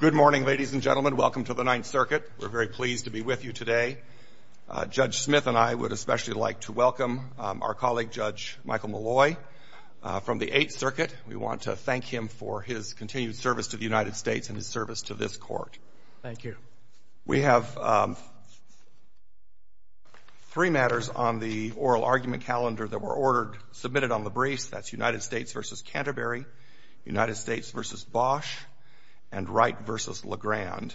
Good morning, ladies and gentlemen. Welcome to the Ninth Circuit. We're very pleased to be with you today. Judge Smith and I would especially like to welcome our colleague, Judge Michael Malloy, from the Eighth Circuit. We want to thank him for his continued service to the United States and his service to this Court. Thank you. We have three matters on the oral argument calendar that were ordered, submitted on the briefs. That's United States v. Canterbury, United States v. Bosch, and Wright v. Legrand.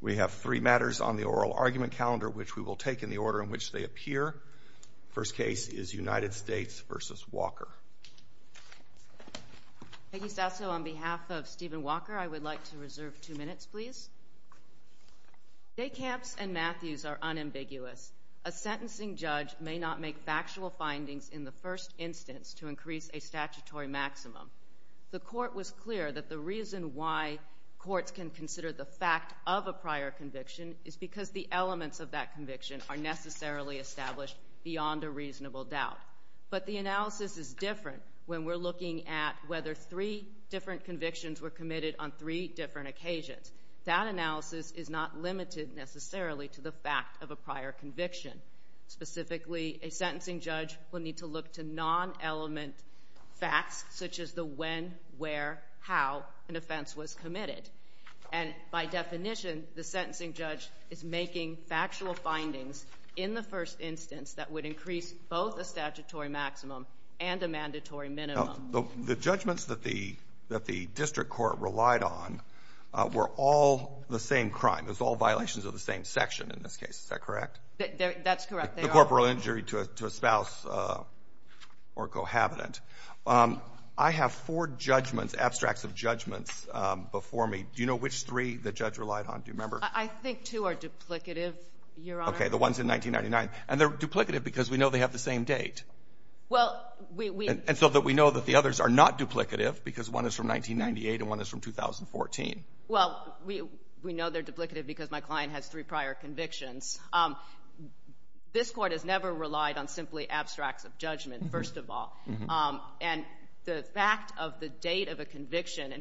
We have three matters on the oral argument calendar, which we will take in the order in which they appear. The first case is United States v. Walker. Thank you, Sasso. On behalf of Steven Walker, I would like to reserve two minutes, please. Decamps and Matthews are unambiguous. A sentencing judge may not make factual findings in the first instance to increase a statutory maximum. The Court was clear that the reason why courts can consider the fact of a prior conviction is because the elements of that conviction are necessarily established beyond a reasonable doubt. But the analysis is different when we're looking at whether three different convictions were committed on three different occasions. That analysis is not limited necessarily to the fact of a prior conviction. Specifically, a sentencing judge will need to look to non-element facts such as the when, where, how an offense was committed. And by definition, the sentencing judge is making factual findings in the first instance that would increase both a statutory maximum and a mandatory minimum. The judgments that the district court relied on were all the same crime. Those are all violations of the same section in this case. Is that correct? That's correct. The corporal injury to a spouse or cohabitant. I have four judgments, abstracts of judgments before me. Do you know which three the judge relied on? Do you remember? I think two are duplicative, Your Honor. Okay, the ones in 1999. And they're duplicative because we know they have the same date. And so we know that the others are not duplicative because one is from 1998 and one is from 2014. Well, we know they're duplicative because my client has three prior convictions. This court has never relied on simply abstracts of judgment, first of all. And the fact of the date of a conviction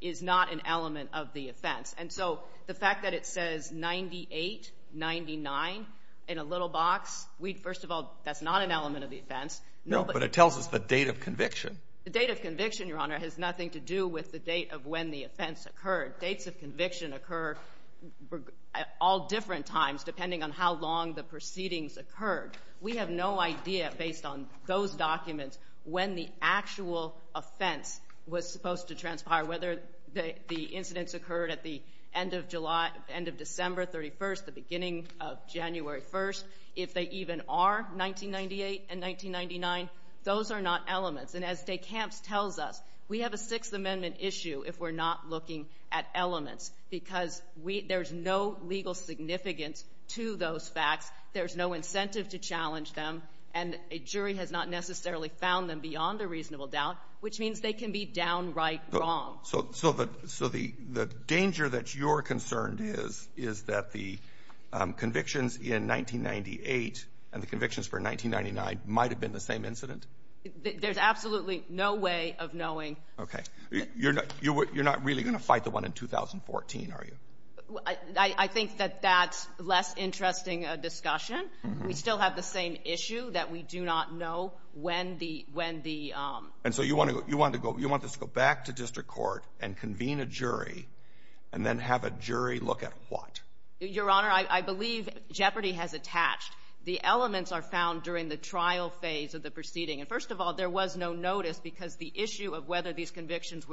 is not an element of the offense. And so the fact that it says 98-99 in a little box, first of all, that's not an element of the offense. No, but it tells us the date of conviction. The date of conviction, Your Honor, has nothing to do with the date of when the offense occurred. Dates of conviction occur at all different times depending on how long the proceedings occurred. We have no idea, based on those documents, when the actual offense was supposed to transpire, whether the incidents occurred at the end of December 31st, the beginning of January 1st, if they even are 1998 and 1999. Those are not elements. And as DeCamps tells us, we have a Sixth Amendment issue if we're not looking at elements because there's no legal significance to those facts, there's no incentive to challenge them, and a jury has not necessarily found them beyond a reasonable doubt, which means they can be downright wrong. So the danger that you're concerned is that the convictions in 1998 and the convictions for 1999 might have been the same incident? There's absolutely no way of knowing. Okay. You're not really going to fight the one in 2014, are you? I think that that's less interesting a discussion. We still have the same issue that we do not know when the— And so you want this to go back to district court and convene a jury and then have a jury look at what? Your Honor, I believe jeopardy has attached. The elements are found during the trial phase of the proceeding. And first of all, there was no notice because the issue of whether these convictions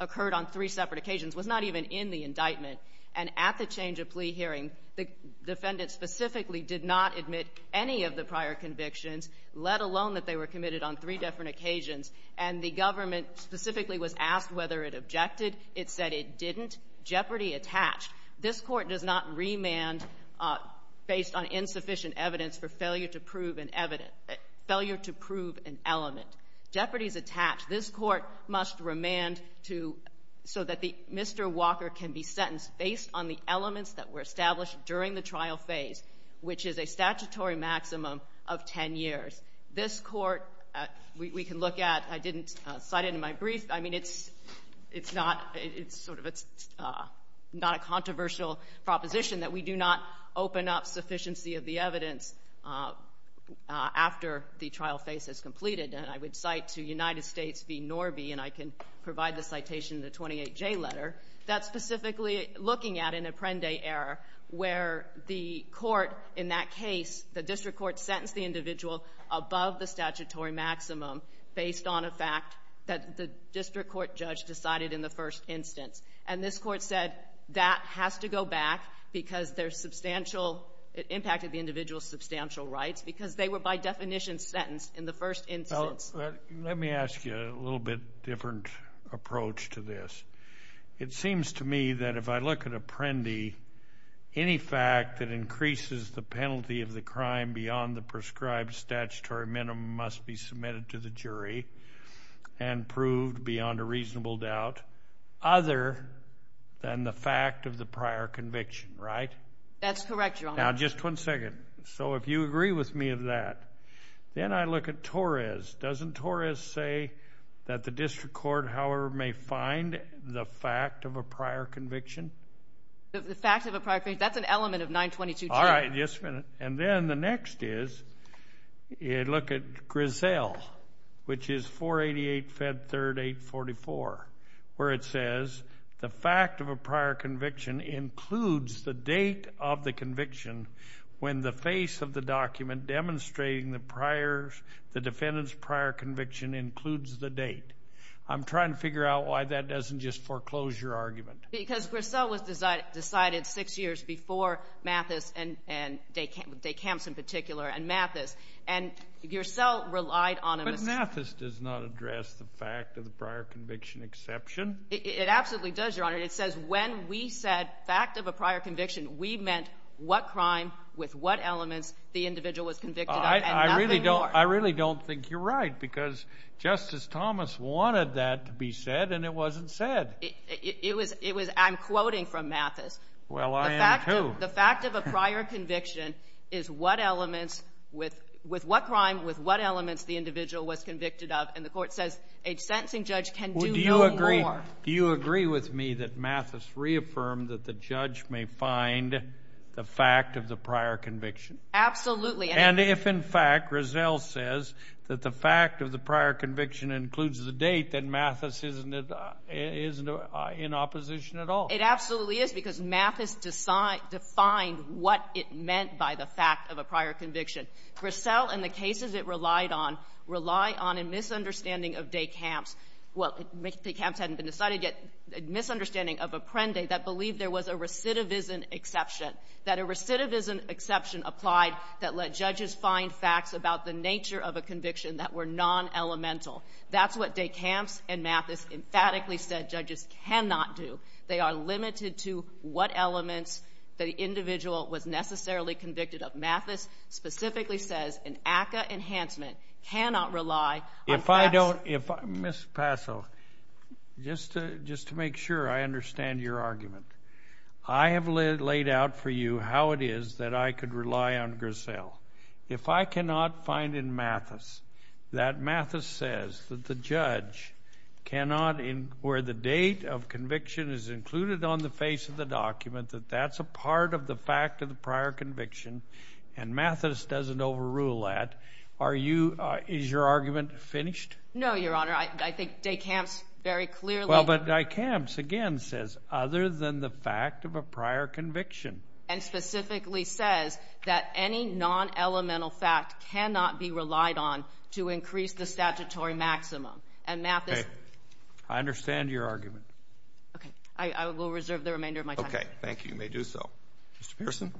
occurred on three separate occasions was not even in the indictment. And at the change of plea hearing, the defendant specifically did not admit any of the prior convictions, let alone that they were committed on three different occasions. And the government specifically was asked whether it objected. It said it didn't. Jeopardy attached. This court does not remand based on insufficient evidence for failure to prove an element. Jeopardy is attached. This court must remand so that Mr. Walker can be sentenced based on the elements that were established during the trial phase, which is a statutory maximum of 10 years. This court we can look at. I didn't cite it in my brief. I mean, it's not a controversial proposition that we do not open up sufficiency of the evidence after the trial phase is completed. And I would cite to United States v. Norby, and I can provide the citation in the 28J letter, that's specifically looking at an Apprende error where the court in that case, the district court sentenced the individual above the statutory maximum based on a fact that the district court judge decided in the first instance. And this court said that has to go back because it impacted the individual's substantial rights because they were by definition sentenced in the first instance. Let me ask you a little bit different approach to this. It seems to me that if I look at Apprende, any fact that increases the penalty of the crime beyond the prescribed statutory minimum must be submitted to the jury and proved beyond a reasonable doubt other than the fact of the prior conviction, right? That's correct, Your Honor. Now, just one second. So if you agree with me of that, then I look at Torres. Doesn't Torres say that the district court, however, may find the fact of a prior conviction? The fact of a prior conviction, that's an element of 922-2. All right, just a minute. And then the next is you look at Griselle, which is 488-Fed3-844, where it says the fact of a prior conviction includes the date of the conviction when the face of the document demonstrating the defendant's prior conviction includes the date. I'm trying to figure out why that doesn't just foreclose your argument. Because Griselle was decided six years before Mathis and Day-Camps in particular and Mathis, and Griselle relied on a mistake. But Mathis does not address the fact of the prior conviction exception. It absolutely does, Your Honor. It says when we said fact of a prior conviction, we meant what crime with what elements the individual was convicted of and nothing more. I really don't think you're right because Justice Thomas wanted that to be said, and it wasn't said. It was I'm quoting from Mathis. Well, I am too. The fact of a prior conviction is what elements with what crime with what elements the individual was convicted of, and the court says a sentencing judge can do no more. Do you agree with me that Mathis reaffirmed that the judge may find the fact of the prior conviction? Absolutely. And if, in fact, Griselle says that the fact of the prior conviction includes the date, then Mathis isn't in opposition at all. It absolutely is because Mathis defined what it meant by the fact of a prior conviction. Griselle and the cases it relied on rely on a misunderstanding of Day-Camps. Well, Day-Camps hadn't been decided yet, a misunderstanding of Apprendi that believed there was a recidivism exception, that a recidivism exception applied that let judges find facts about the nature of a conviction that were non-elemental. That's what Day-Camps and Mathis emphatically said judges cannot do. They are limited to what elements the individual was necessarily convicted of. Mathis specifically says an ACCA enhancement cannot rely on facts. Ms. Paso, just to make sure I understand your argument, I have laid out for you how it is that I could rely on Griselle. If I cannot find in Mathis that Mathis says that the judge cannot, where the date of conviction is included on the face of the document, that that's a part of the fact of the prior conviction and Mathis doesn't overrule that, are you, is your argument finished? No, Your Honor. I think Day-Camps very clearly Well, but Day-Camps again says other than the fact of a prior conviction. And specifically says that any non-elemental fact cannot be relied on to increase the statutory maximum. And Mathis I understand your argument. Okay. I will reserve the remainder of my time. Okay. Thank you. You may do so. Mr. Pearson.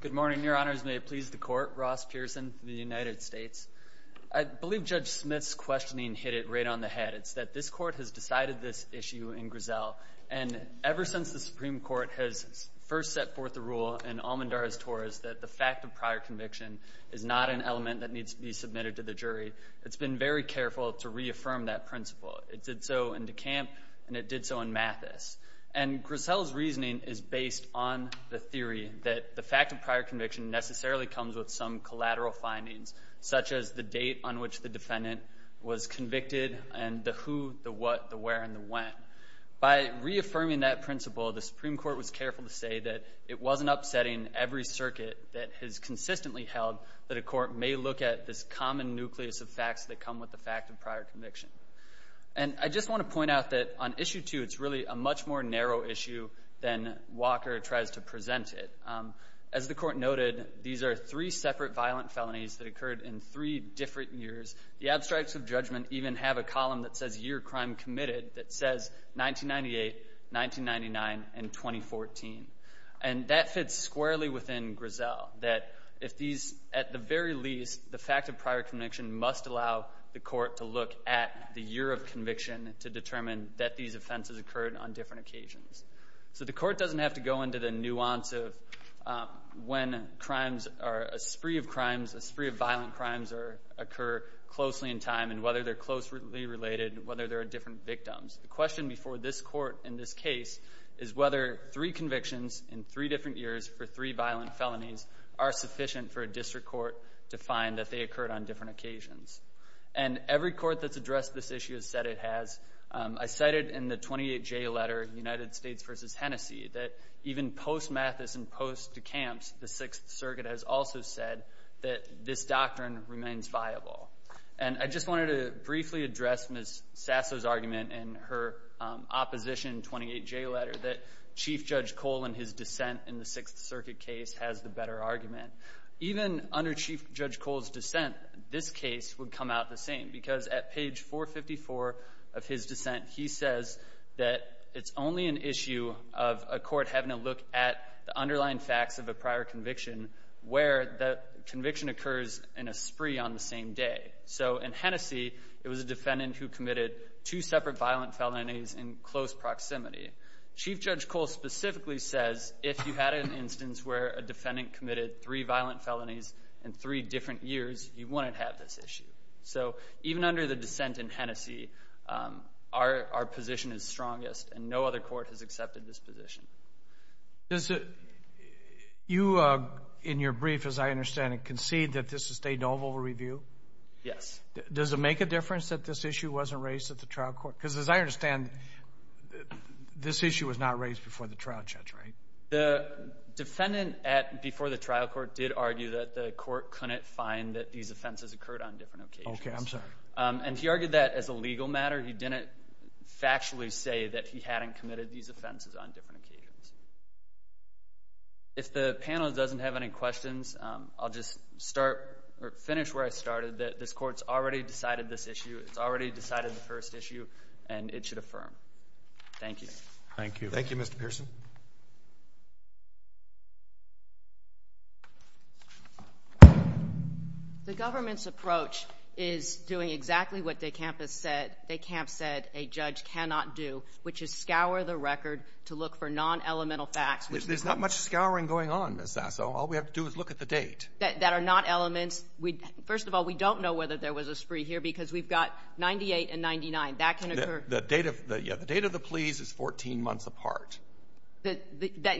Good morning, Your Honors. May it please the Court. Ross Pearson from the United States. I believe Judge Smith's questioning hit it right on the head. It's that this Court has decided this issue in Griselle. And ever since the Supreme Court has first set forth the rule in Almendar's Torus that the fact of prior conviction is not an element that needs to be submitted to the jury, it's been very careful to reaffirm that principle. It did so in DeCamp and it did so in Mathis. And Griselle's reasoning is based on the theory that the fact of prior conviction necessarily comes with some collateral findings, such as the date on which the defendant was convicted and the who, the what, the where, and the when. By reaffirming that principle, the Supreme Court was careful to say that it wasn't upsetting every circuit that has consistently held that a court may look at this common nucleus of facts that come with the fact of prior conviction. And I just want to point out that on Issue 2, it's really a much more narrow issue than Walker tries to present it. As the Court noted, these are three separate violent felonies that occurred in three different years. The abstracts of judgment even have a column that says year crime committed that says 1998, 1999, and 2014. And that fits squarely within Griselle, that if these, at the very least, the fact of prior conviction must allow the Court to look at the year of conviction to determine that these offenses occurred on different occasions. So the Court doesn't have to go into the nuance of when crimes are, a spree of crimes, a spree of violent crimes occur closely in time and whether they're closely related, whether there are different victims. The question before this Court in this case is whether three convictions in three different years for three violent felonies are sufficient for a district court to find that they occurred on different occasions. And every court that's addressed this issue has said it has. I cited in the 28J letter, United States v. Hennessey, that even post-Mathis and post-DeKamps, the Sixth Circuit has also said that this doctrine remains viable. And I just wanted to briefly address Ms. Sasso's argument in her opposition 28J letter that Chief Judge Cole and his dissent in the Sixth Circuit case has the better argument. Even under Chief Judge Cole's dissent, this case would come out the same because at page 454 of his dissent, he says that it's only an issue of a court having to look at the underlying facts of a prior conviction where the conviction occurs in a spree on the same day. So in Hennessey, it was a defendant who committed two separate violent felonies in close proximity. Chief Judge Cole specifically says if you had an instance where a defendant committed three violent felonies in three different years, you wouldn't have this issue. So even under the dissent in Hennessey, our position is strongest, and no other court has accepted this position. You, in your brief, as I understand it, concede that this is state and oval review? Yes. Does it make a difference that this issue wasn't raised at the trial court? Because as I understand, this issue was not raised before the trial judge, right? The defendant before the trial court did argue that the court couldn't find that these offenses occurred on different occasions. Okay, I'm sorry. And he argued that as a legal matter. He didn't factually say that he hadn't committed these offenses on different occasions. If the panel doesn't have any questions, I'll just start or finish where I started, that this court's already decided this issue, it's already decided the first issue, and it should affirm. Thank you. Thank you. Thank you, Mr. Pearson. The government's approach is doing exactly what de Camp said a judge cannot do, which is scour the record to look for non-elemental facts. There's not much scouring going on, Ms. Sasso. All we have to do is look at the date. That are not elements. First of all, we don't know whether there was a spree here because we've got 98 and 99. The date of the pleas is 14 months apart.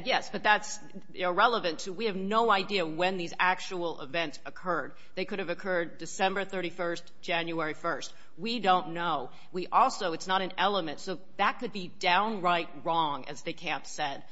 Yes, but that's irrelevant. We have no idea when these actual events occurred. They could have occurred December 31st, January 1st. We don't know. Also, it's not an element, so that could be downright wrong, as de Camp said.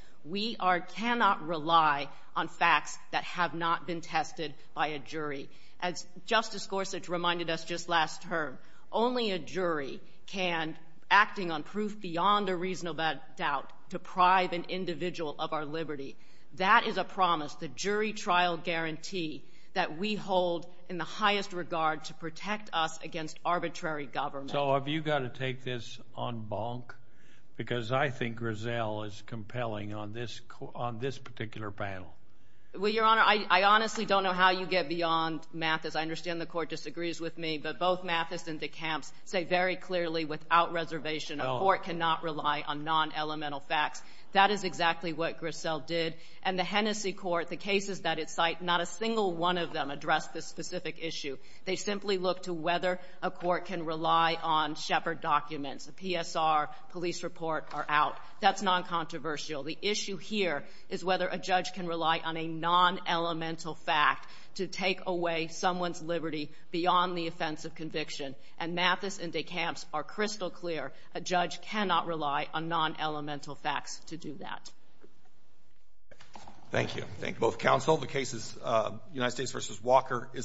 As Justice Gorsuch reminded us just last term, only a jury can, acting on proof beyond a reasonable doubt, deprive an individual of our liberty. That is a promise, the jury trial guarantee, that we hold in the highest regard to protect us against arbitrary government. So have you got to take this on bonk? Because I think Griselle is compelling on this particular panel. Well, Your Honor, I honestly don't know how you get beyond Mathis. I understand the court disagrees with me, but both Mathis and de Camp say very clearly, without reservation, a court cannot rely on non-elemental facts. That is exactly what Griselle did. And the Hennessey court, the cases that it cited, not a single one of them addressed this specific issue. They simply looked to whether a court can rely on Shepard documents. The PSR police report are out. That's non-controversial. The issue here is whether a judge can rely on a non-elemental fact to take away someone's liberty beyond the offense of conviction. And Mathis and de Camp are crystal clear. A judge cannot rely on non-elemental facts to do that. Thank you. Thank you both counsel. The case is United States v. Walker is submitted.